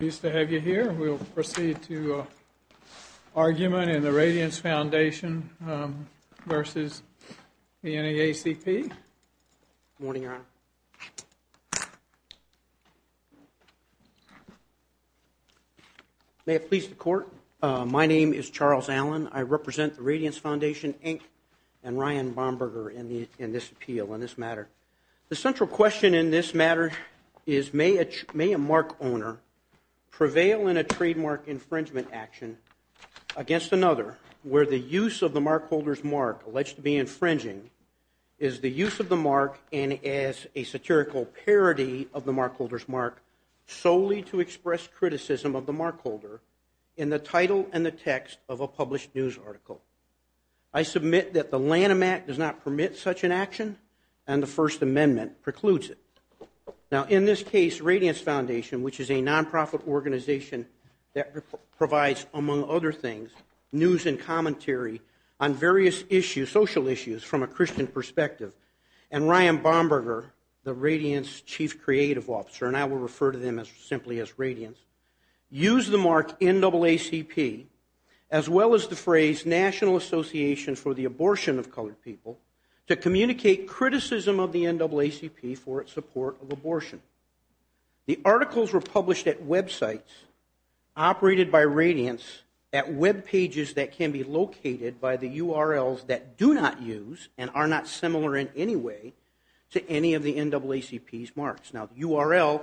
Pleased to have you here. We'll proceed to argument in the Radiance Foundation v. NAACP. Good morning, Your Honor. May it please the Court, my name is Charles Allen. I represent the Radiance Foundation, Inc. and Ryan Bomberger in this appeal, in this matter. The central question in this matter is may a mark owner prevail in a trademark infringement action against another where the use of the mark holder's mark alleged to be infringing is the use of the mark and as a satirical parody of the mark holder's mark solely to express criticism of the mark holder in the title and the text of a published news article. I submit that the Lanham Act does not permit such an action and the First Amendment precludes it. Now, in this case, Radiance Foundation, which is a nonprofit organization that provides, among other things, news and commentary on various issues, social issues, from a Christian perspective, and Ryan Bomberger, the Radiance Chief Creative Officer, and I will refer to them simply as Radiance, use the mark NAACP, as well as the phrase National Association for the Abortion of Colored People, to communicate criticism of the NAACP for its support of abortion. The articles were published at websites operated by Radiance at webpages that can be located by the URLs that do not use and are not similar in any way to any of the NAACP's marks. Now, the URL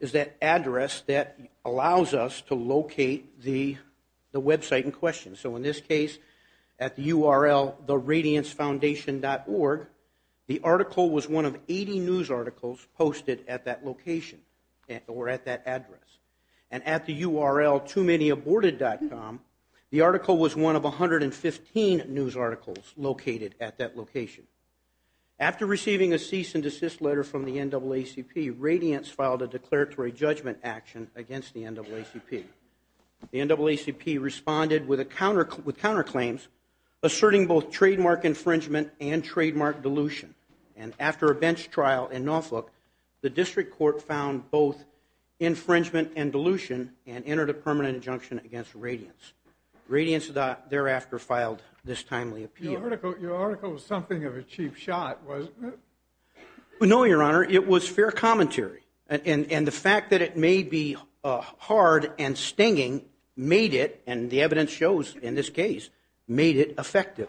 is that address that allows us to locate the website in question. So, in this case, at the URL theradiancefoundation.org, the article was one of 80 news articles posted at that location or at that address. And at the URL toomanyaborted.com, the article was one of 115 news articles located at that location. After receiving a cease and desist letter from the NAACP, Radiance filed a declaratory judgment action against the NAACP. The NAACP responded with counterclaims, asserting both trademark infringement and trademark dilution. And after a bench trial in Norfolk, the district court found both infringement and dilution and entered a permanent injunction against Radiance. Radiance thereafter filed this timely appeal. Your article was something of a cheap shot, wasn't it? No, Your Honor, it was fair commentary. And the fact that it may be hard and stinging made it, and the evidence shows in this case, made it effective.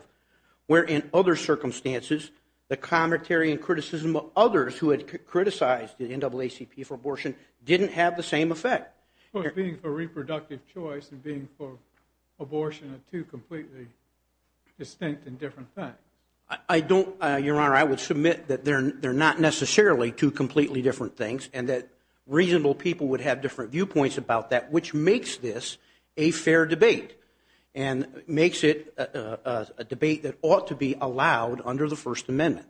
Where in other circumstances, the commentary and criticism of others who had criticized the NAACP for abortion didn't have the same effect. Of course, being for reproductive choice and being for abortion are two completely distinct and different things. I don't, Your Honor, I would submit that they're not necessarily two completely different things, and that reasonable people would have different viewpoints about that, which makes this a fair debate, and makes it a debate that ought to be allowed under the First Amendment.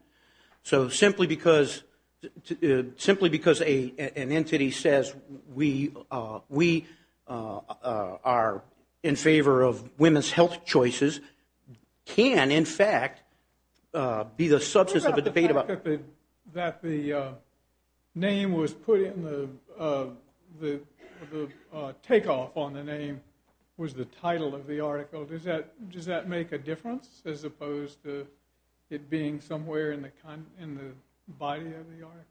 So simply because an entity says we are in favor of women's health choices can, in fact, be the substance of a debate about- that the name was put in the- the takeoff on the name was the title of the article. Does that make a difference as opposed to it being somewhere in the body of the article?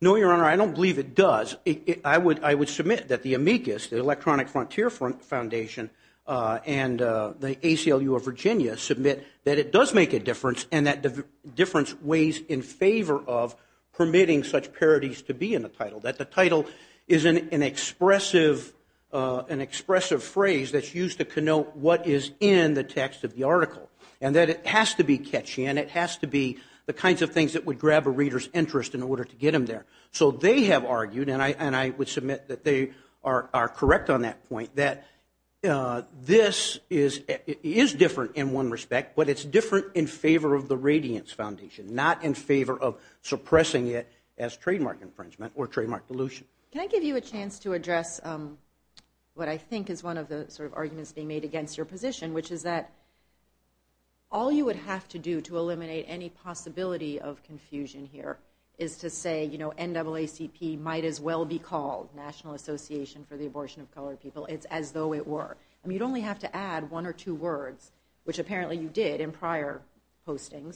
No, Your Honor, I don't believe it does. I would submit that the amicus, the Electronic Frontier Foundation, and the ACLU of Virginia, I would submit that it does make a difference, and that the difference weighs in favor of permitting such parodies to be in the title. That the title is an expressive phrase that's used to connote what is in the text of the article, and that it has to be catchy, and it has to be the kinds of things that would grab a reader's interest in order to get them there. So they have argued, and I would submit that they are correct on that point, that this is different in one respect, but it's different in favor of the Radiance Foundation, not in favor of suppressing it as trademark infringement or trademark dilution. Can I give you a chance to address what I think is one of the sort of arguments being made against your position, which is that all you would have to do to eliminate any possibility of confusion here is to say, you know, NAACP might as well be called National Association for the Abortion of Colored People. It's as though it were. I mean, you'd only have to add one or two words, which apparently you did in prior postings.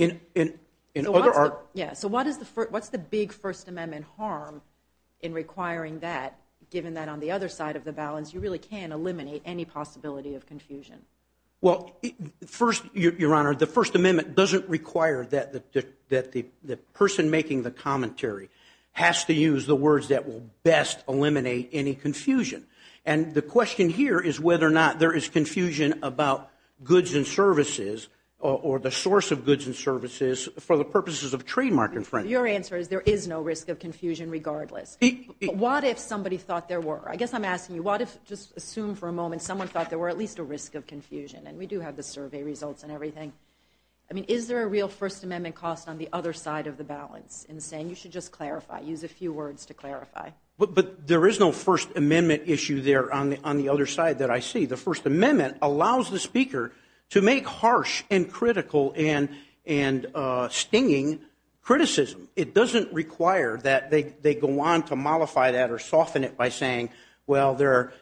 So what's the big First Amendment harm in requiring that, given that on the other side of the balance, you really can eliminate any possibility of confusion? Well, first, Your Honor, the First Amendment doesn't require that the person making the commentary has to use the words that will best eliminate any confusion. And the question here is whether or not there is confusion about goods and services or the source of goods and services for the purposes of trademark infringement. Your answer is there is no risk of confusion regardless. What if somebody thought there were? I guess I'm asking you, what if, just assume for a moment, someone thought there were at least a risk of confusion? And we do have the survey results and everything. I mean, is there a real First Amendment cost on the other side of the balance in saying you should just clarify, use a few words to clarify? But there is no First Amendment issue there on the other side that I see. The First Amendment allows the speaker to make harsh and critical and stinging criticism. It doesn't require that they go on to mollify that or soften it by saying, well, the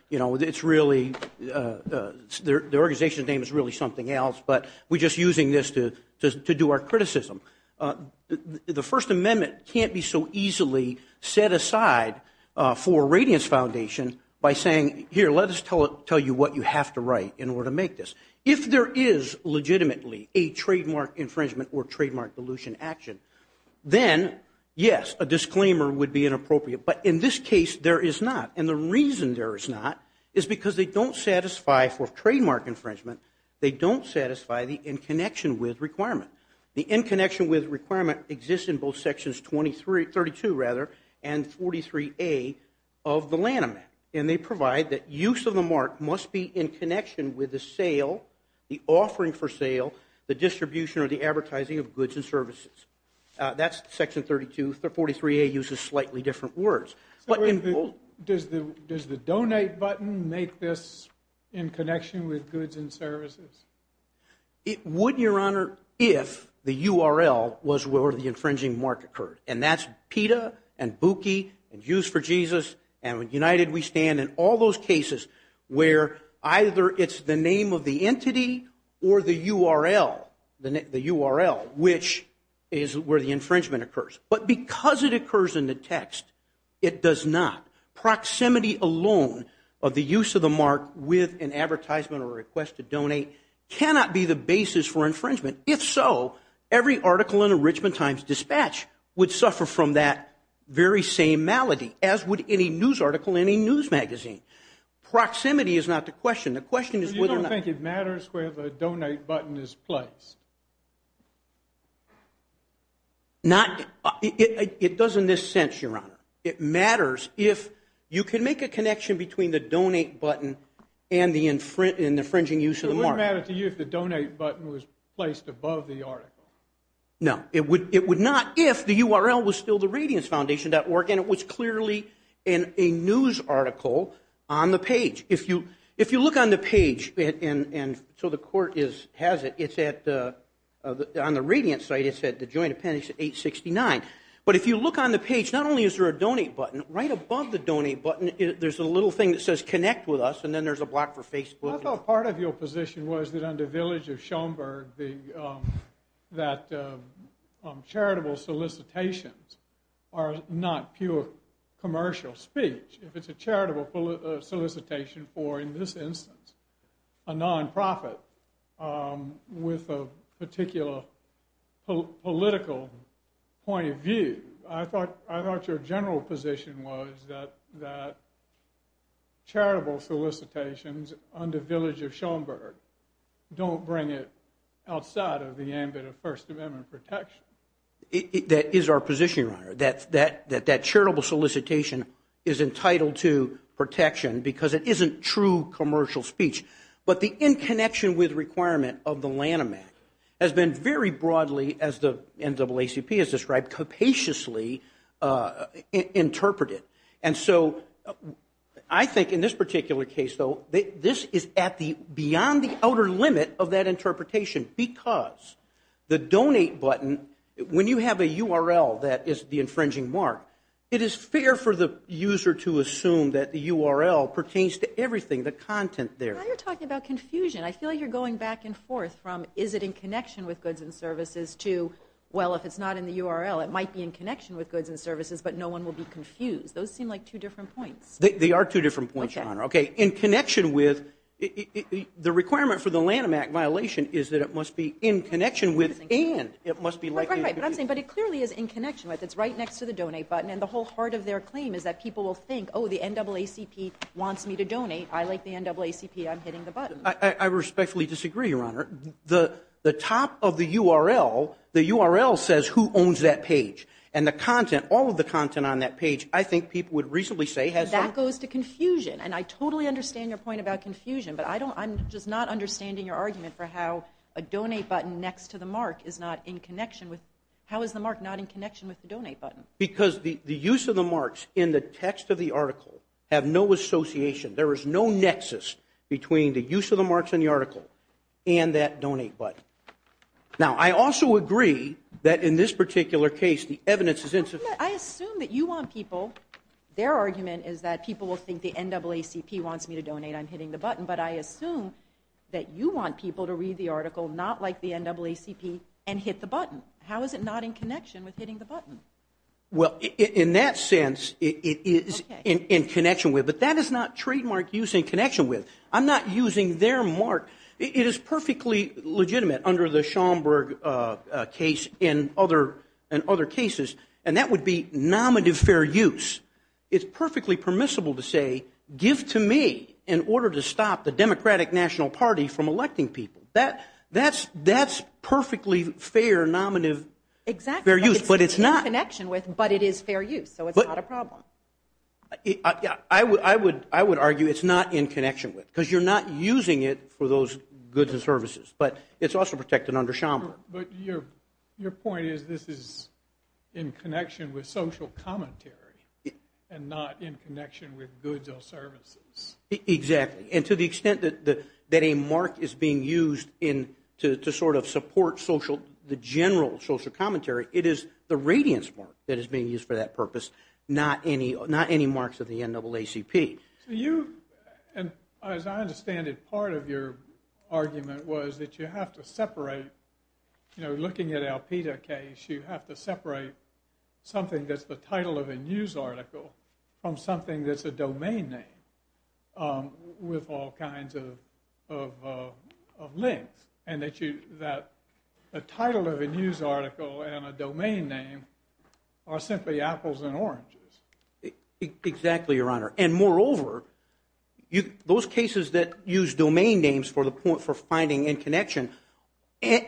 organization's name is really something else, but we're just using this to do our criticism. The First Amendment can't be so easily set aside for a radiance foundation by saying, here, let us tell you what you have to write in order to make this. If there is legitimately a trademark infringement or trademark dilution action, then, yes, a disclaimer would be inappropriate. But in this case, there is not. And the reason there is not is because they don't satisfy for trademark infringement, they don't satisfy the in connection with requirement. The in connection with requirement exists in both Sections 32 and 43A of the Lanham Act. And they provide that use of the mark must be in connection with the sale, the offering for sale, the distribution or the advertising of goods and services. That's Section 32. 43A uses slightly different words. Does the donate button make this in connection with goods and services? It would, Your Honor, if the URL was where the infringing mark occurred. And that's PETA and Buki and Use for Jesus and United We Stand and all those cases where either it's the name of the entity or the URL, the URL, which is where the infringement occurs. But because it occurs in the text, it does not. Proximity alone of the use of the mark with an advertisement or a request to donate cannot be the basis for infringement. If so, every article in the Richmond Times Dispatch would suffer from that very same malady, as would any news article in a news magazine. Proximity is not the question. The question is whether or not. So you don't think it matters where the donate button is placed? It does in this sense, Your Honor. It matters if you can make a connection between the donate button and the infringing use of the mark. Would it matter to you if the donate button was placed above the article? No. It would not if the URL was still the RadianceFoundation.org, and it was clearly in a news article on the page. If you look on the page, and so the court has it, it's on the Radiance site. It said the joint appendix 869. But if you look on the page, not only is there a donate button, right above the donate button, there's a little thing that says connect with us, and then there's a block for Facebook. I thought part of your position was that under Village of Schoenberg that charitable solicitations are not pure commercial speech. If it's a charitable solicitation for, in this instance, a nonprofit with a particular political point of view, I thought your general position was that charitable solicitations under Village of Schoenberg don't bring it outside of the ambit of First Amendment protection. That is our position, Your Honor, that that charitable solicitation is entitled to protection because it isn't true commercial speech. But the in connection with requirement of the Lanham Act has been very broadly, as the NAACP has described, capaciously interpreted. And so I think in this particular case, though, this is beyond the outer limit of that interpretation because the donate button, when you have a URL that is the infringing mark, it is fair for the user to assume that the URL pertains to everything, the content there. Now you're talking about confusion. I feel like you're going back and forth from is it in connection with goods and services to, well, if it's not in the URL, it might be in connection with goods and services, but no one will be confused. Those seem like two different points. They are two different points, Your Honor. Okay. In connection with, the requirement for the Lanham Act violation is that it must be in connection with and it must be likely to be. Right, right. But I'm saying, but it clearly is in connection with. It's right next to the donate button. And the whole heart of their claim is that people will think, oh, the NAACP wants me to donate. I like the NAACP. I'm hitting the button. I respectfully disagree, Your Honor. The top of the URL, the URL says who owns that page. And the content, all of the content on that page, I think people would reasonably say has some. That goes to confusion. And I totally understand your point about confusion. But I don't, I'm just not understanding your argument for how a donate button next to the mark is not in connection with, how is the mark not in connection with the donate button? Because the use of the marks in the text of the article have no association. There is no nexus between the use of the marks in the article and that donate button. Now, I also agree that in this particular case the evidence is insufficient. I assume that you want people, their argument is that people will think the NAACP wants me to donate. I'm hitting the button. But I assume that you want people to read the article not like the NAACP and hit the button. How is it not in connection with hitting the button? Well, in that sense, it is in connection with. But that is not trademark use in connection with. I'm not using their mark. It is perfectly legitimate under the Schomburg case and other cases, and that would be nominative fair use. It's perfectly permissible to say give to me in order to stop the Democratic National Party from electing people. That's perfectly fair nominative fair use. Exactly. It's in connection with, but it is fair use. So it's not a problem. I would argue it's not in connection with because you're not using it for those goods and services. But it's also protected under Schomburg. But your point is this is in connection with social commentary and not in connection with goods or services. Exactly. And to the extent that a mark is being used to sort of support the general social commentary, it is the radiance mark that is being used for that purpose, not any marks of the NAACP. So you, and as I understand it, part of your argument was that you have to separate, you know, looking at Alpita case, you have to separate something that's the title of a news article from something that's a domain name with all kinds of links. And that the title of a news article and a domain name are simply apples and oranges. Exactly, Your Honor. And moreover, those cases that use domain names for finding and connection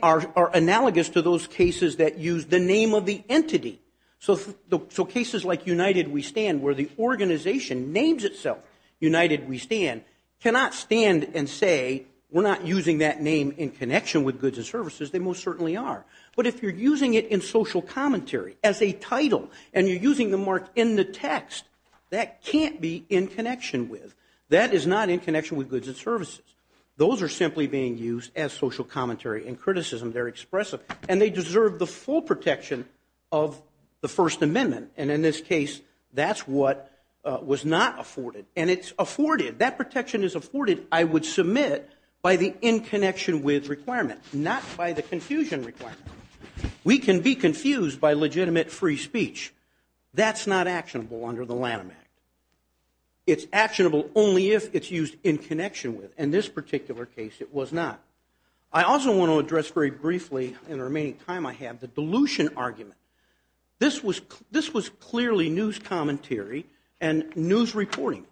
are analogous to those cases that use the name of the entity. So cases like United We Stand where the organization names itself United We Stand cannot stand and say, we're not using that name in connection with goods and services. They most certainly are. But if you're using it in social commentary as a title and you're using the mark in the text, that can't be in connection with. That is not in connection with goods and services. Those are simply being used as social commentary and criticism. They're expressive. And they deserve the full protection of the First Amendment. And in this case, that's what was not afforded. And it's afforded. That protection is afforded, I would submit, by the in connection with requirement, not by the confusion requirement. We can be confused by legitimate free speech. That's not actionable under the Lanham Act. It's actionable only if it's used in connection with. In this particular case, it was not. I also want to address very briefly, in the remaining time I have, the dilution argument. This was clearly news commentary and news reporting.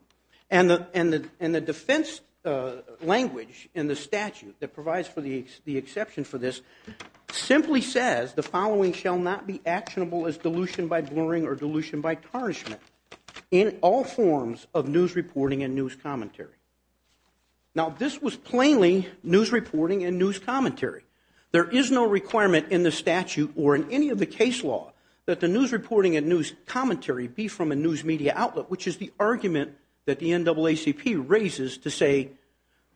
And the defense language in the statute that provides for the exception for this simply says, the following shall not be actionable as dilution by blurring or dilution by tarnishment in all forms of news reporting and news commentary. Now, this was plainly news reporting and news commentary. There is no requirement in the statute or in any of the case law that the news reporting and news commentary be from a news media outlet, which is the argument that the NAACP raises to say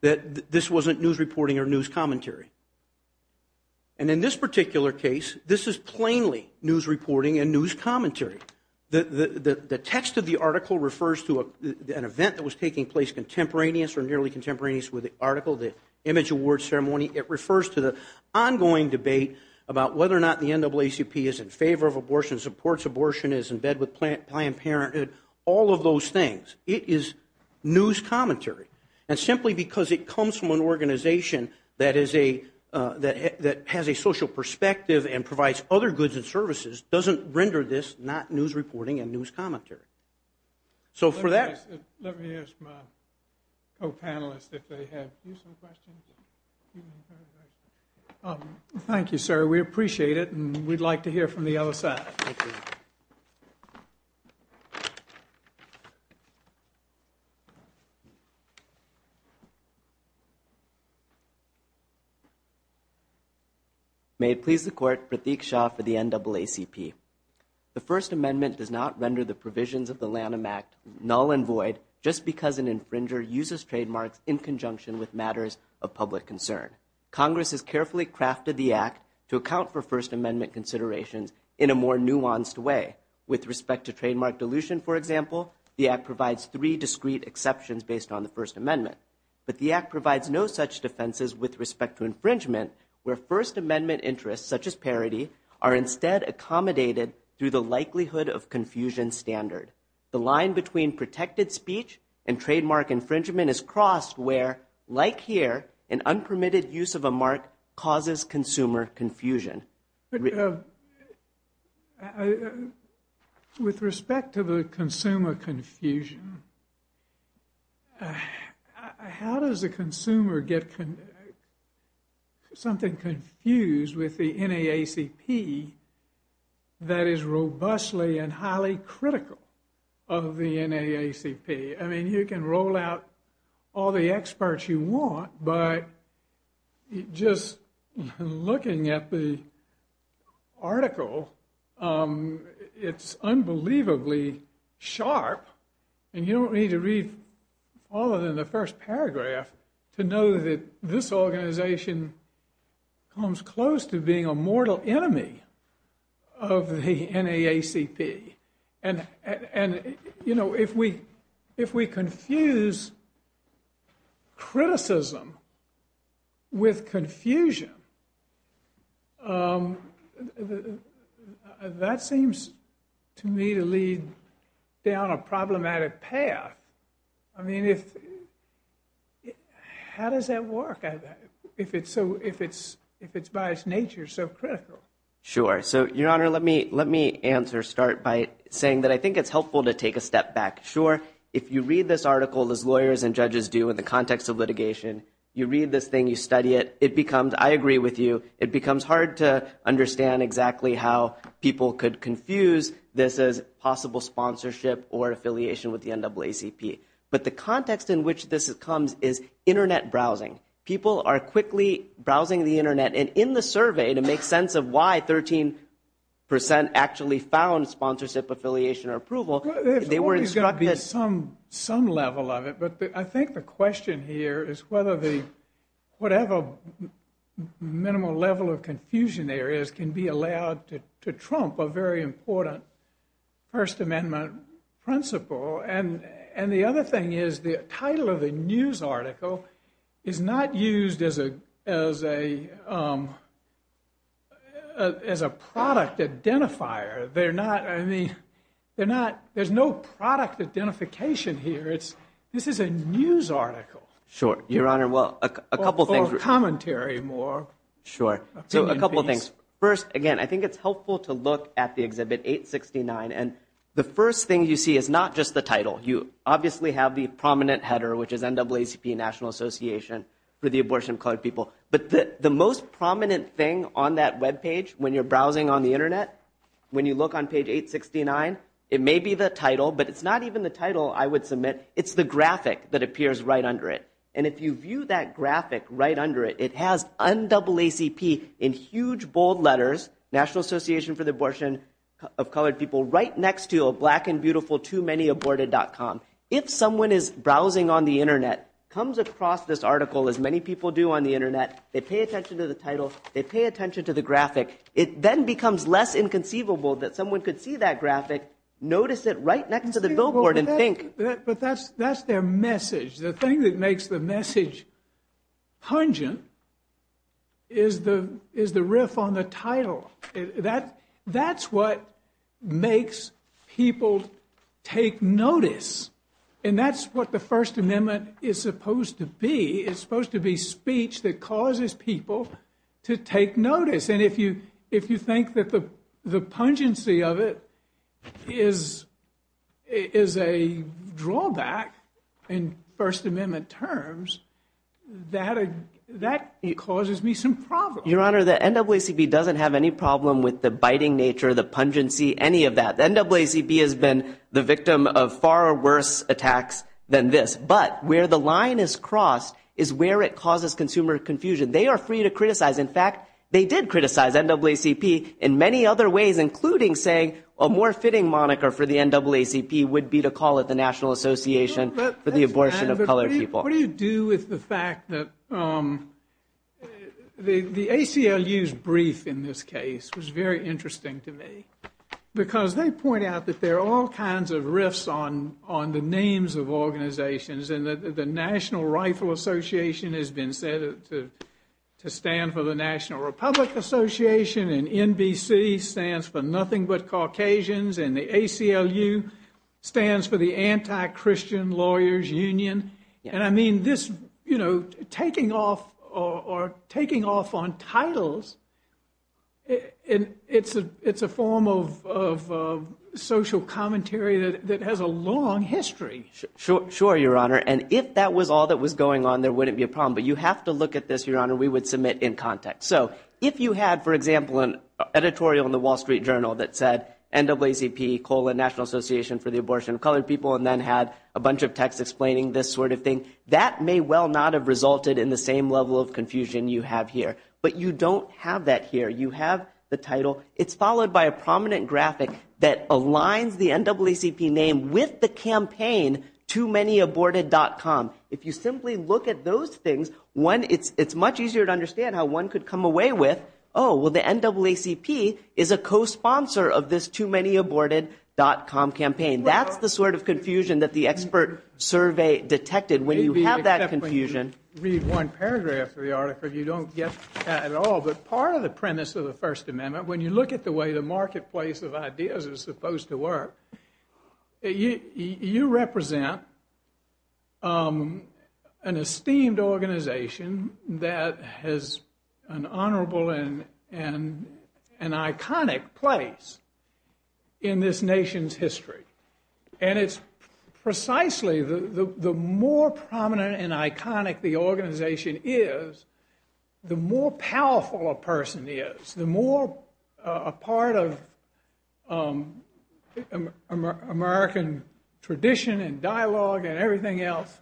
that this wasn't news reporting or news commentary. And in this particular case, this is plainly news reporting and news commentary. The text of the article refers to an event that was taking place contemporaneous or nearly contemporaneous with the article, the image award ceremony. It refers to the ongoing debate about whether or not the NAACP is in favor of abortion, supports abortion, is in bed with Planned Parenthood, all of those things. It is news commentary. And simply because it comes from an organization that has a social perspective and provides other goods and services doesn't render this not news reporting and news commentary. So for that. Let me ask my co-panelists if they have some questions. Thank you, sir. We appreciate it and we'd like to hear from the other side. Thank you. May it please the court, Pratik Shah for the NAACP. The First Amendment does not render the provisions of the Lanham Act null and void just because an infringer uses trademarks in conjunction with matters of public concern. Congress has carefully crafted the Act to account for First Amendment considerations in a more nuanced way. With respect to trademark dilution, for example, the Act provides three discreet exceptions based on the First Amendment. But the Act provides no such defenses with respect to infringement where First Amendment interests, such as parity, are instead accommodated through the likelihood of confusion standard. The line between protected speech and trademark infringement is crossed where, like here, an unpermitted use of a mark causes consumer confusion. With respect to the consumer confusion, how does a consumer get something confused with the NAACP that is robustly and highly critical of the NAACP? I mean, you can roll out all the experts you want, but just looking at the article, it's unbelievably sharp. And you don't need to read all of it in the first paragraph to know that this organization comes close to being a mortal enemy of the NAACP. And if we confuse criticism with confusion, that seems to me to lead down a problematic path. I mean, how does that work if it's by its nature so critical? Sure. So, Your Honor, let me answer, start by saying that I think it's helpful to take a step back. Sure, if you read this article, as lawyers and judges do in the context of litigation, you read this thing, you study it, it becomes, I agree with you, it becomes hard to understand exactly how people could confuse this as possible sponsorship or affiliation with the NAACP. But the context in which this comes is Internet browsing. People are quickly browsing the Internet. And in the survey, to make sense of why 13% actually found sponsorship, affiliation, or approval, they were instructed... There's always got to be some level of it. But I think the question here is whether the, whatever minimal level of confusion there is, can be allowed to trump a very important First Amendment principle. And the other thing is the title of the news article is not used as a product identifier. They're not, I mean, they're not, there's no product identification here. This is a news article. Sure. Your Honor, well, a couple things... Or commentary more. Sure. So, a couple of things. First, again, I think it's helpful to look at the Exhibit 869. And the first thing you see is not just the title. You obviously have the prominent header, which is NAACP National Association for the Abortion of Colored People. But the most prominent thing on that webpage, when you're browsing on the Internet, when you look on page 869, it may be the title, but it's not even the title I would submit. It's the graphic that appears right under it. And if you view that graphic right under it, it has NAACP in huge, bold letters, National Association for the Abortion of Colored People, right next to a black and beautiful too-many-aborted.com. If someone is browsing on the Internet, comes across this article, as many people do on the Internet, they pay attention to the title, they pay attention to the graphic, it then becomes less inconceivable that someone could see that graphic, notice it right next to the billboard and think... But that's their message. The thing that makes the message pungent is the riff on the title. That's what makes people take notice. And that's what the First Amendment is supposed to be. It's supposed to be speech that causes people to take notice. And if you think that the pungency of it is a drawback in First Amendment terms, that causes me some problems. Your Honor, the NAACP doesn't have any problem with the biting nature, the pungency, any of that. The NAACP has been the victim of far worse attacks than this. But where the line is crossed is where it causes consumer confusion. They are free to criticize. In fact, they did criticize NAACP in many other ways, including saying, a more fitting moniker for the NAACP would be to call it the National Association for the Abortion of Colored People. What do you do with the fact that the ACLU's brief in this case was very interesting to me? Because they point out that there are all kinds of riffs on the names of organizations and that the National Rifle Association has been said to stand for the National Republic Association and NBC stands for nothing but Caucasians and the ACLU stands for the Anti-Christian Lawyers Union. And I mean, this, you know, taking off or taking off on titles, it's a form of social commentary that has a long history. Sure, Your Honor. And if that was all that was going on, there wouldn't be a problem. But you have to look at this, Your Honor, we would submit in context. So if you had, for example, an editorial in the Wall Street Journal that said NAACP, colon, National Association for the Abortion of Colored People, and then had a bunch of text explaining this sort of thing, that may well not have resulted in the same level of confusion you have here. But you don't have that here. You have the title. It's followed by a prominent graphic that aligns the NAACP name with the campaign TooManyAborted.com. If you simply look at those things, it's much easier to understand how one could come away with, oh, well, the NAACP is a cosponsor of this TooManyAborted.com campaign. That's the sort of confusion that the expert survey detected when you have that confusion. Read one paragraph of the article, you don't get that at all. But part of the premise of the First Amendment, when you look at the way the marketplace of ideas is supposed to work, you represent an esteemed organization that has an honorable and iconic place in this nation's history. And it's precisely the more prominent and iconic the organization is, the more powerful a person is, the more a part of American tradition and dialogue and everything else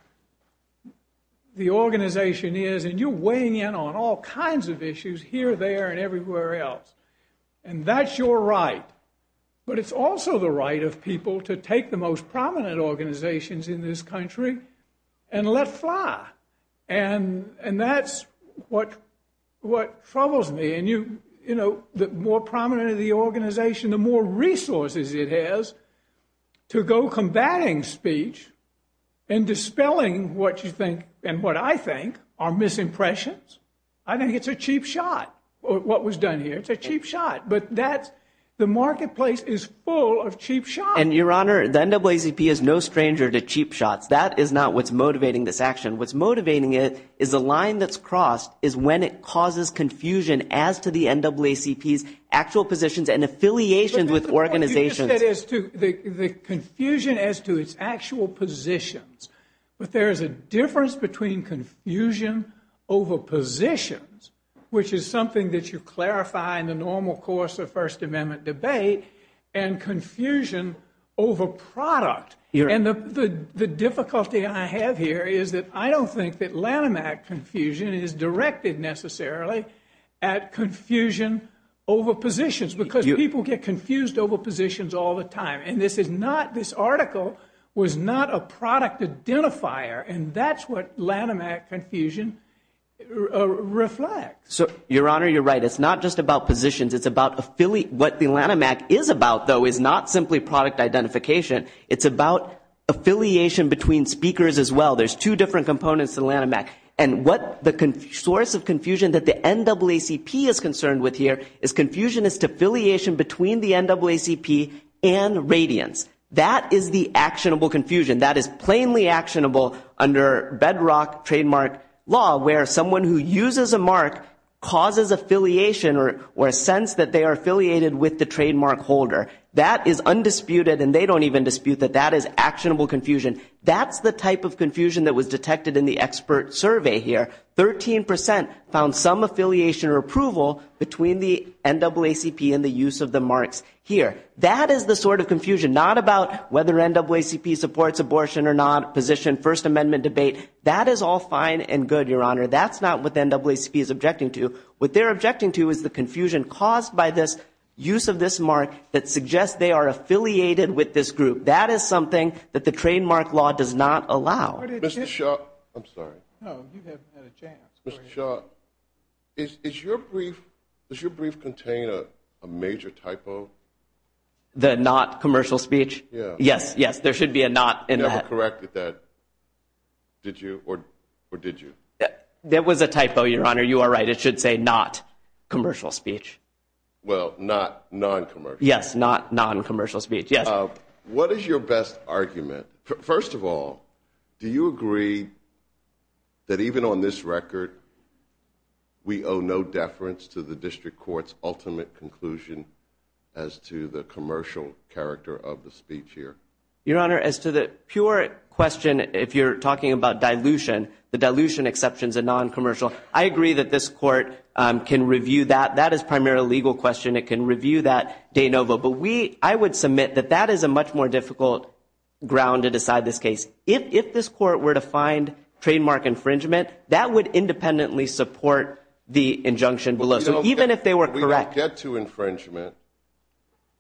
the organization is, and you're weighing in on all kinds of issues here, there, and everywhere else. And that's your right. But it's also the right of people to take the most prominent organizations in this country and let fly. And that's what troubles me. And the more prominent the organization, the more resources it has to go combating speech and dispelling what you think and what I think are misimpressions. I think it's a cheap shot, what was done here. It's a cheap shot, but the marketplace is full of cheap shots. And, Your Honor, the NAACP is no stranger to cheap shots. That is not what's motivating this action. What's motivating it is the line that's crossed is when it causes confusion as to the NAACP's actual positions and affiliations with organizations. But what you just said is the confusion as to its actual positions. But there is a difference between confusion over positions, which is something that you clarify in the normal course of First Amendment debate, and confusion over product. And the difficulty I have here is that I don't think that Lanham Act confusion is directed necessarily at confusion over positions because people get confused over positions all the time. And this is not, this article was not a product identifier. And that's what Lanham Act confusion reflects. Your Honor, you're right. It's not just about positions. It's about affiliate. What the Lanham Act is about, though, is not simply product identification. It's about affiliation between speakers as well. There's two different components to Lanham Act. And what the source of confusion that the NAACP is concerned with here is confusion as to affiliation between the NAACP and Radiance. That is the actionable confusion. That is plainly actionable under bedrock trademark law where someone who uses a mark causes affiliation or a sense that they are affiliated with the trademark holder. That is undisputed, and they don't even dispute that that is actionable confusion. That's the type of confusion that was detected in the expert survey here. Thirteen percent found some affiliation or approval between the NAACP and the use of the marks here. That is the sort of confusion, not about whether NAACP supports abortion or not, position, First Amendment debate. That is all fine and good, Your Honor. That's not what the NAACP is objecting to. What they're objecting to is the confusion caused by this use of this mark that suggests they are affiliated with this group. That is something that the trademark law does not allow. Mr. Shaw, I'm sorry. No, you haven't had a chance. Mr. Shaw, does your brief contain a major typo? The not commercial speech? Yes, yes, there should be a not in that. You never corrected that, did you, or did you? That was a typo, Your Honor. You are right. It should say not commercial speech. Well, not non-commercial. Yes, not non-commercial speech, yes. What is your best argument? First of all, do you agree that even on this record we owe no deference to the district court's ultimate conclusion as to the commercial character of the speech here? Your Honor, as to the pure question, if you're talking about dilution, the dilution exceptions and non-commercial, I agree that this court can review that. That is primarily a legal question. It can review that de novo. But I would submit that that is a much more difficult ground to decide this case. If this court were to find trademark infringement, that would independently support the injunction below. So even if they were correct. We could get to infringement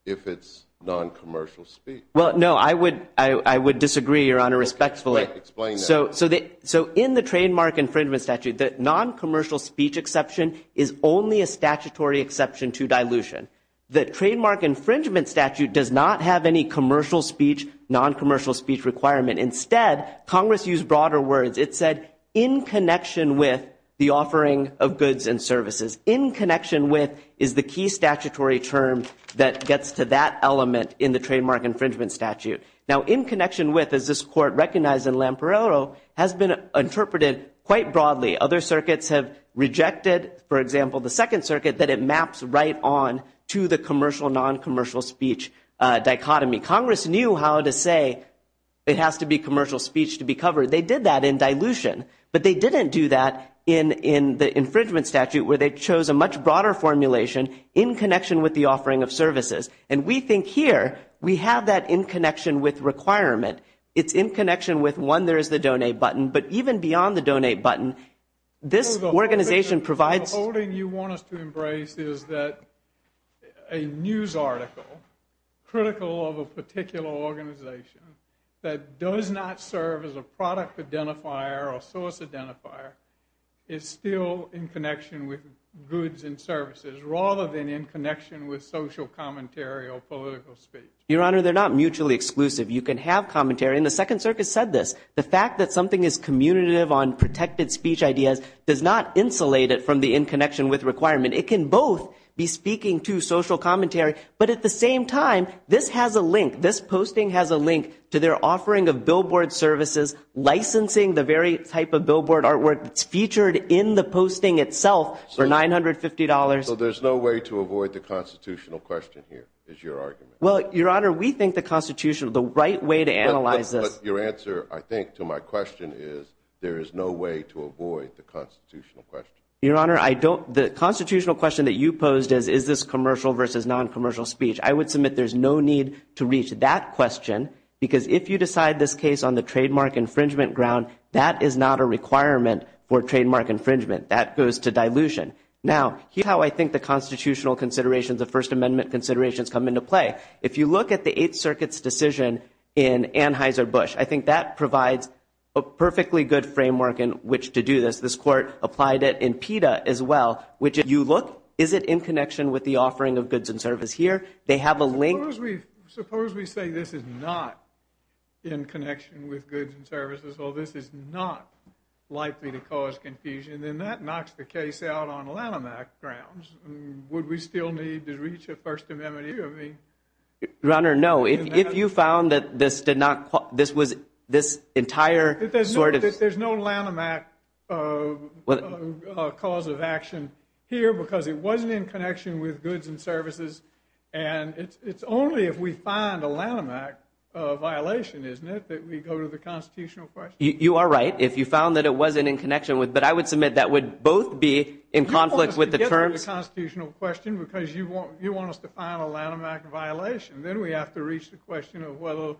if it's non-commercial speech. Well, no, I would disagree, Your Honor, respectfully. Explain that. So in the trademark infringement statute, the non-commercial speech exception is only a statutory exception to dilution. The trademark infringement statute does not have any commercial speech, non-commercial speech requirement. Instead, Congress used broader words. It said in connection with the offering of goods and services. In connection with is the key statutory term that gets to that element in the trademark infringement statute. Now, in connection with, as this court recognized in Lampariello, has been interpreted quite broadly. Other circuits have rejected, for example, the Second Circuit that it maps right on to the commercial, non-commercial speech dichotomy. Congress knew how to say it has to be commercial speech to be covered. They did that in dilution. But they didn't do that in the infringement statute where they chose a much broader formulation in connection with the offering of services. And we think here we have that in connection with requirement. It's in connection with, one, there is the donate button. But even beyond the donate button, this organization provides. The whole thing you want us to embrace is that a news article critical of a particular organization that does not serve as a product identifier or source identifier is still in connection with goods and services rather than in connection with social commentary or political speech. Your Honor, they're not mutually exclusive. You can have commentary. And the Second Circuit said this. The fact that something is commutative on protected speech ideas does not insulate it from the in connection with requirement. It can both be speaking to social commentary. But at the same time, this has a link. This posting has a link to their offering of billboard services, licensing the very type of billboard artwork that's featured in the posting itself for $950. So there's no way to avoid the constitutional question here is your argument? Well, Your Honor, we think the constitutional, the right way to analyze this. But your answer, I think, to my question is there is no way to avoid the constitutional question. Your Honor, the constitutional question that you posed is, is this commercial versus non-commercial speech? I would submit there's no need to reach that question because if you decide this case on the trademark infringement ground, that is not a requirement for trademark infringement. That goes to dilution. Now, here's how I think the constitutional considerations, the First Amendment considerations come into play. If you look at the Eighth Circuit's decision in Anheuser-Busch, I think that provides a perfectly good framework in which to do this. This court applied it in PETA as well, which if you look, is it in connection with the offering of goods and services here? They have a link. Suppose we say this is not in connection with goods and services. Well, this is not likely to cause confusion. Then that knocks the case out on Lanham Act grounds. Would we still need to reach a First Amendment? Your Honor, no. If you found that this did not, this was this entire sort of. There's no Lanham Act cause of action here because it wasn't in connection with goods and services. And it's only if we find a Lanham Act violation, isn't it, that we go to the constitutional question? You are right. If you found that it wasn't in connection with, but I would submit that would both be in conflict with the terms. You want us to get to the constitutional question because you want us to find a Lanham Act violation. Then we have to reach the question of whether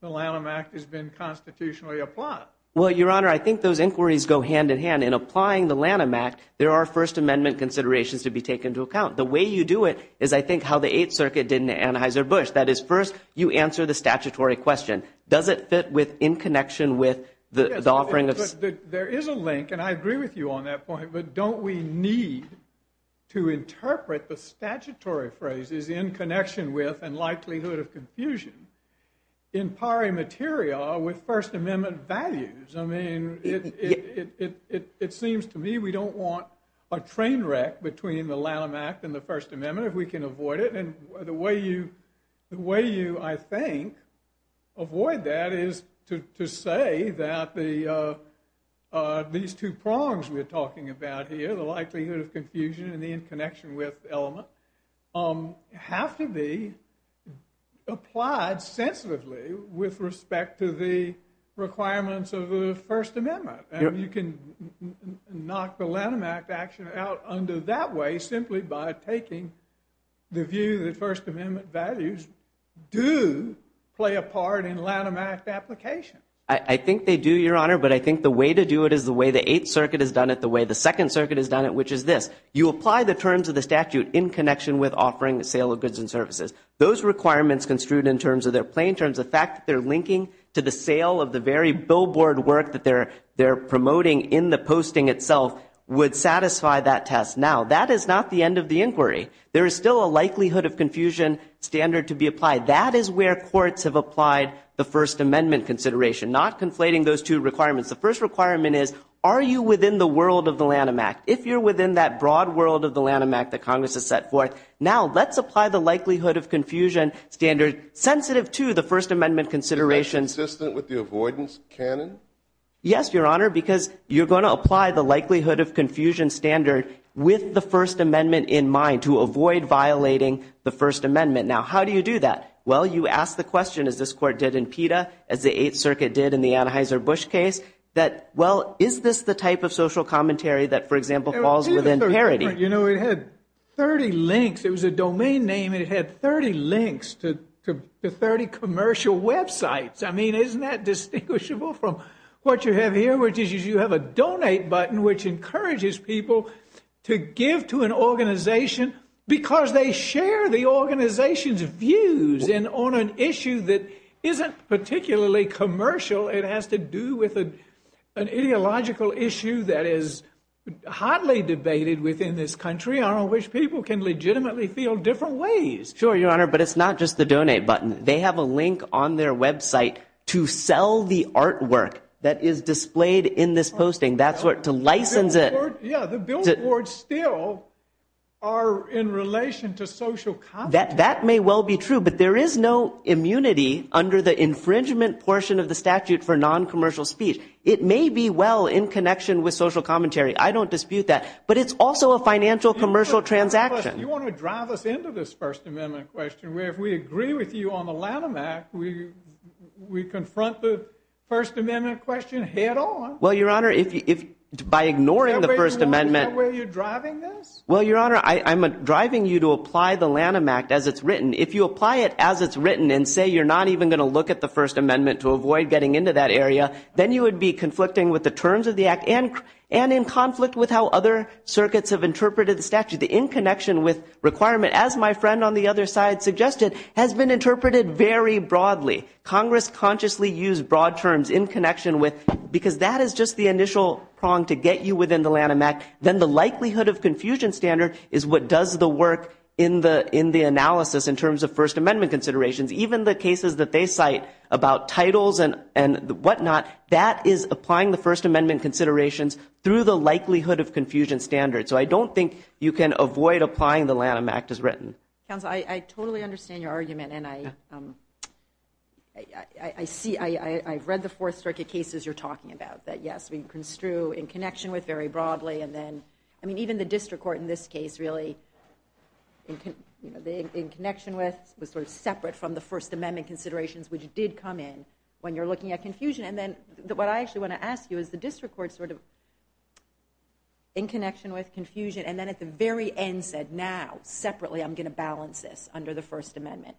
the Lanham Act has been constitutionally applied. Well, Your Honor, I think those inquiries go hand in hand. In applying the Lanham Act, there are First Amendment considerations to be taken into account. The way you do it is, I think, how the Eighth Circuit did in Anheuser-Busch. That is, first, you answer the statutory question. Does it fit in connection with the offering of... There is a link, and I agree with you on that point. But don't we need to interpret the statutory phrases in connection with and likelihood of confusion in pari materia with First Amendment values? I mean, it seems to me we don't want a train wreck between the Lanham Act and the First Amendment if we can avoid it. And the way you, I think, avoid that is to say that these two prongs we are talking about here, the likelihood of confusion and the in connection with element, have to be applied sensitively with respect to the requirements of the First Amendment. And you can knock the Lanham Act action out under that way simply by taking the view that First Amendment values do play a part in Lanham Act application. I think they do, Your Honor, but I think the way to do it is the way the Eighth Circuit has done it, the way the Second Circuit has done it, which is this. You apply the terms of the statute in connection with offering the sale of goods and services. Those requirements construed in terms of their plain terms, the fact that they're linking to the sale of the very billboard work that they're promoting in the posting itself would satisfy that test. Now, that is not the end of the inquiry. There is still a likelihood of confusion standard to be applied. That is where courts have applied the First Amendment consideration, not conflating those two requirements. The first requirement is, are you within the world of the Lanham Act? If you're within that broad world of the Lanham Act that Congress has set forth, now let's apply the likelihood of confusion standard sensitive to the First Amendment considerations. Is that consistent with the avoidance canon? Yes, Your Honor, because you're going to apply the likelihood of confusion standard with the First Amendment in mind to avoid violating the First Amendment. Now, how do you do that? Well, you ask the question, as this Court did in PETA, as the Eighth Circuit did in the Anheuser-Busch case, that, well, is this the type of social commentary that, for example, falls within parity? You know, it had 30 links. It was a domain name, and it had 30 links to 30 commercial websites. I mean, isn't that distinguishable from what you have here, which is you have a donate button which encourages people to give to an organization because they share the organization's views on an issue that isn't particularly commercial. It has to do with an ideological issue that is hotly debated within this country, on which people can legitimately feel different ways. Sure, Your Honor, but it's not just the donate button. They have a link on their website to sell the artwork that is displayed in this posting. That's to license it. Yeah, the billboards still are in relation to social commentary. That may well be true, but there is no immunity under the infringement portion of the statute for noncommercial speech. It may be well in connection with social commentary. I don't dispute that. But it's also a financial commercial transaction. You want to drive us into this First Amendment question, where if we agree with you on the Lanham Act, we confront the First Amendment question head on? Well, Your Honor, by ignoring the First Amendment— Is that where you're driving this? Well, Your Honor, I'm driving you to apply the Lanham Act as it's written. If you apply it as it's written and say you're not even going to look at the First Amendment to avoid getting into that area, then you would be conflicting with the terms of the act and in conflict with how other circuits have interpreted the statute. The in connection with requirement, as my friend on the other side suggested, has been interpreted very broadly. Congress consciously used broad terms, in connection with, because that is just the initial prong to get you within the Lanham Act. Then the likelihood of confusion standard is what does the work in the analysis in terms of First Amendment considerations. Even the cases that they cite about titles and whatnot, that is applying the First Amendment considerations through the likelihood of confusion standards. So I don't think you can avoid applying the Lanham Act as written. Counsel, I totally understand your argument, and I've read the Fourth Circuit cases you're talking about, that yes, we construe in connection with very broadly. Even the district court in this case really, in connection with, was separate from the First Amendment considerations, which did come in when you're looking at confusion. What I actually want to ask you is the district court in connection with confusion, and then at the very end said, now, separately, I'm going to balance this under the First Amendment.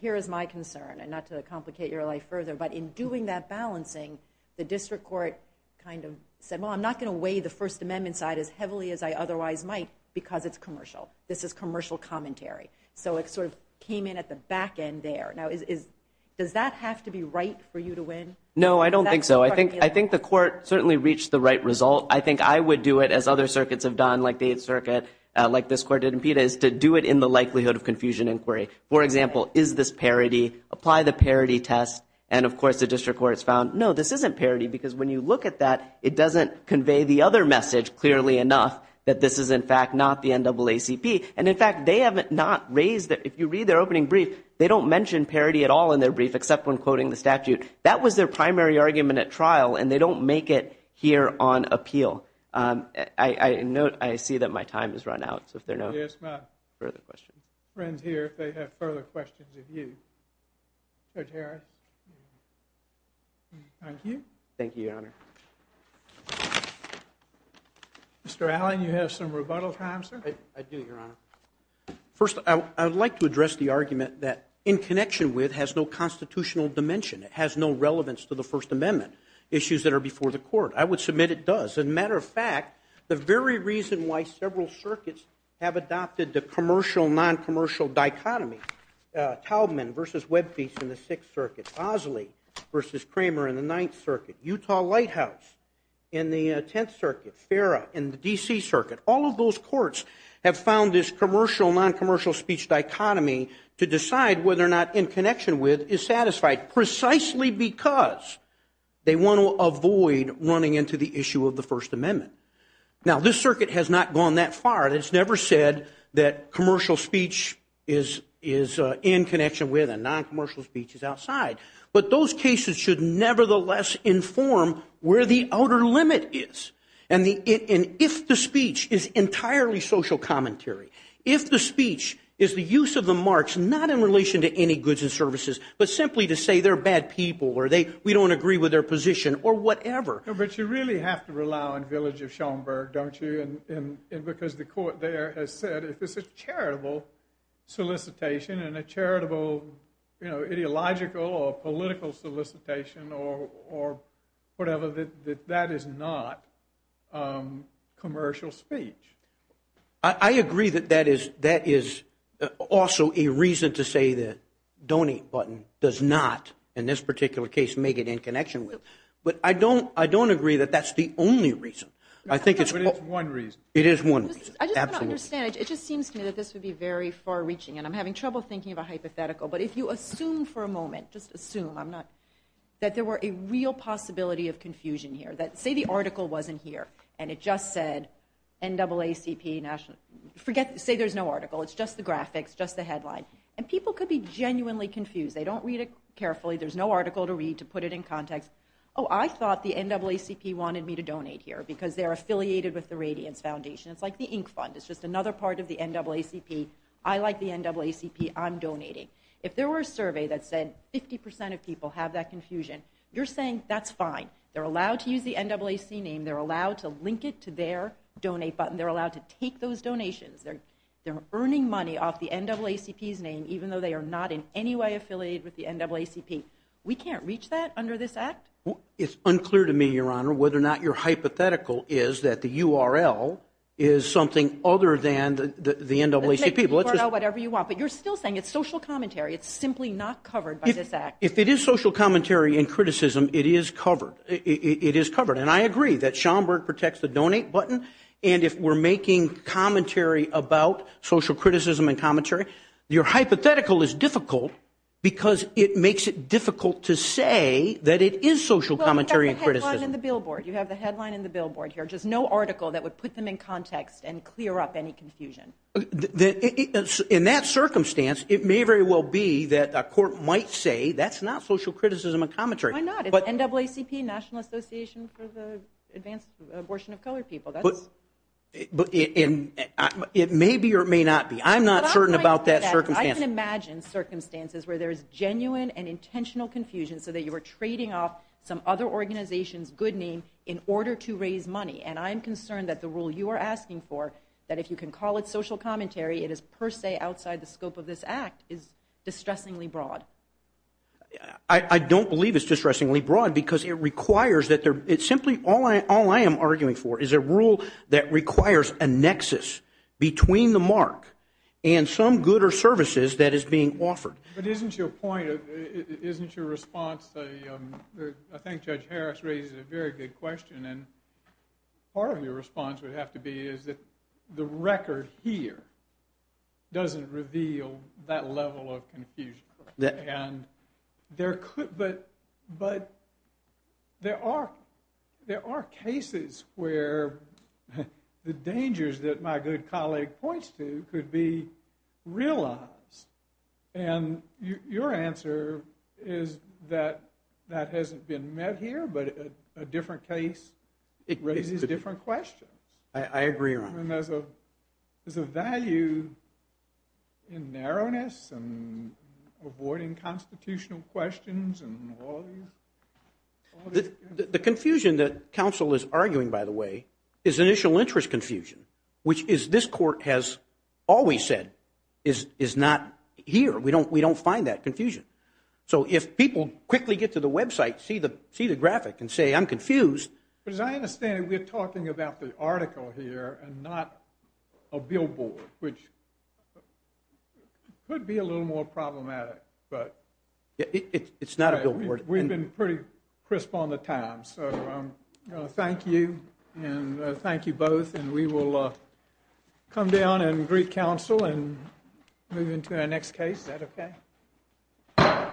Here is my concern, and not to complicate your life further, but in doing that balancing, the district court kind of said, well, I'm not going to weigh the First Amendment side as heavily as I otherwise might because it's commercial. This is commercial commentary. So it sort of came in at the back end there. Now, does that have to be right for you to win? No, I don't think so. I think the court certainly reached the right result. I think I would do it, as other circuits have done, like the Eighth Circuit, like this court did in PETA, is to do it in the likelihood of confusion inquiry. For example, is this parity? Apply the parity test. And, of course, the district court has found, no, this isn't parity because when you look at that, it doesn't convey the other message clearly enough that this is, in fact, not the NAACP. And, in fact, they have not raised it. If you read their opening brief, they don't mention parity at all in their brief except when quoting the statute. That was their primary argument at trial, and they don't make it here on appeal. I see that my time has run out, so if there are no further questions. I'll call my friends here if they have further questions of you. Judge Harris? Thank you. Thank you, Your Honor. Mr. Allen, you have some rebuttal time, sir? I do, Your Honor. First, I would like to address the argument that in connection with has no constitutional dimension. It has no relevance to the First Amendment issues that are before the court. I would submit it does. As a matter of fact, the very reason why several circuits have adopted the commercial-noncommercial dichotomy, Taubman v. Webfield in the Sixth Circuit, Osley v. Kramer in the Ninth Circuit, Utah Lighthouse in the Tenth Circuit, Ferra in the D.C. Circuit, all of those courts have found this commercial-noncommercial speech dichotomy to decide whether or not in connection with is satisfied, precisely because they want to avoid running into the issue of the First Amendment. Now, this circuit has not gone that far. It has never said that commercial speech is in connection with and noncommercial speech is outside. But those cases should nevertheless inform where the outer limit is. And if the speech is entirely social commentary, if the speech is the use of the marks, not in relation to any goods and services, but simply to say they're bad people or we don't agree with their position or whatever. But you really have to rely on Village of Schomburg, don't you? And because the court there has said if it's a charitable solicitation and a charitable ideological or political solicitation or whatever, that that is not commercial speech. I agree that that is also a reason to say the donate button does not, in this particular case, make it in connection with. But I don't agree that that's the only reason. But it's one reason. It is one reason, absolutely. I just want to understand. It just seems to me that this would be very far-reaching, and I'm having trouble thinking of a hypothetical. But if you assume for a moment, just assume, that there were a real possibility of confusion here, that say the article wasn't here and it just said NAACP, say there's no article, it's just the graphics, just the headline, and people could be genuinely confused. They don't read it carefully. There's no article to read to put it in context. Oh, I thought the NAACP wanted me to donate here because they're affiliated with the Radiance Foundation. It's like the Ink Fund. It's just another part of the NAACP. I like the NAACP. I'm donating. If there were a survey that said 50% of people have that confusion, you're saying that's fine. They're allowed to use the NAACP name. They're allowed to link it to their donate button. They're allowed to take those donations. They're earning money off the NAACP's name, even though they are not in any way affiliated with the NAACP. We can't reach that under this act? It's unclear to me, Your Honor, whether or not your hypothetical is that the URL is something other than the NAACP. Let's make the URL whatever you want, but you're still saying it's social commentary. It's simply not covered by this act. If it is social commentary and criticism, it is covered. It is covered. And I agree that Schomburg protects the donate button, and if we're making commentary about social criticism and commentary, your hypothetical is difficult because it makes it difficult to say that it is social commentary and criticism. Well, you have the headline in the billboard. You have the headline in the billboard here, just no article that would put them in context and clear up any confusion. In that circumstance, it may very well be that a court might say that's not social criticism and commentary. Why not? It's NAACP, National Association for the Advanced Abortion of Colored People. It may be or it may not be. I'm not certain about that circumstance. I can imagine circumstances where there is genuine and intentional confusion so that you are trading off some other organization's good name in order to raise money. And I am concerned that the rule you are asking for, that if you can call it social commentary, it is per se outside the scope of this act, is distressingly broad. I don't believe it's distressingly broad because it requires that there – it's simply – all I am arguing for is a rule that requires a nexus between the mark and some good or services that is being offered. But isn't your point – isn't your response – I think Judge Harris raises a very good question. And part of your response would have to be is that the record here doesn't reveal that level of confusion. And there could – but there are cases where the dangers that my good colleague points to could be realized. And your answer is that that hasn't been met here, but a different case raises different questions. I agree, Your Honor. And there's a value in narrowness and avoiding constitutional questions and all these – The confusion that counsel is arguing, by the way, is initial interest confusion, which is this court has always said is not here. We don't find that confusion. So if people quickly get to the website, see the graphic, and say, I'm confused. But as I understand it, we're talking about the article here and not a billboard, which could be a little more problematic, but – It's not a billboard. We've been pretty crisp on the time. So thank you, and thank you both. And we will come down and greet counsel and move into our next case. Is that okay?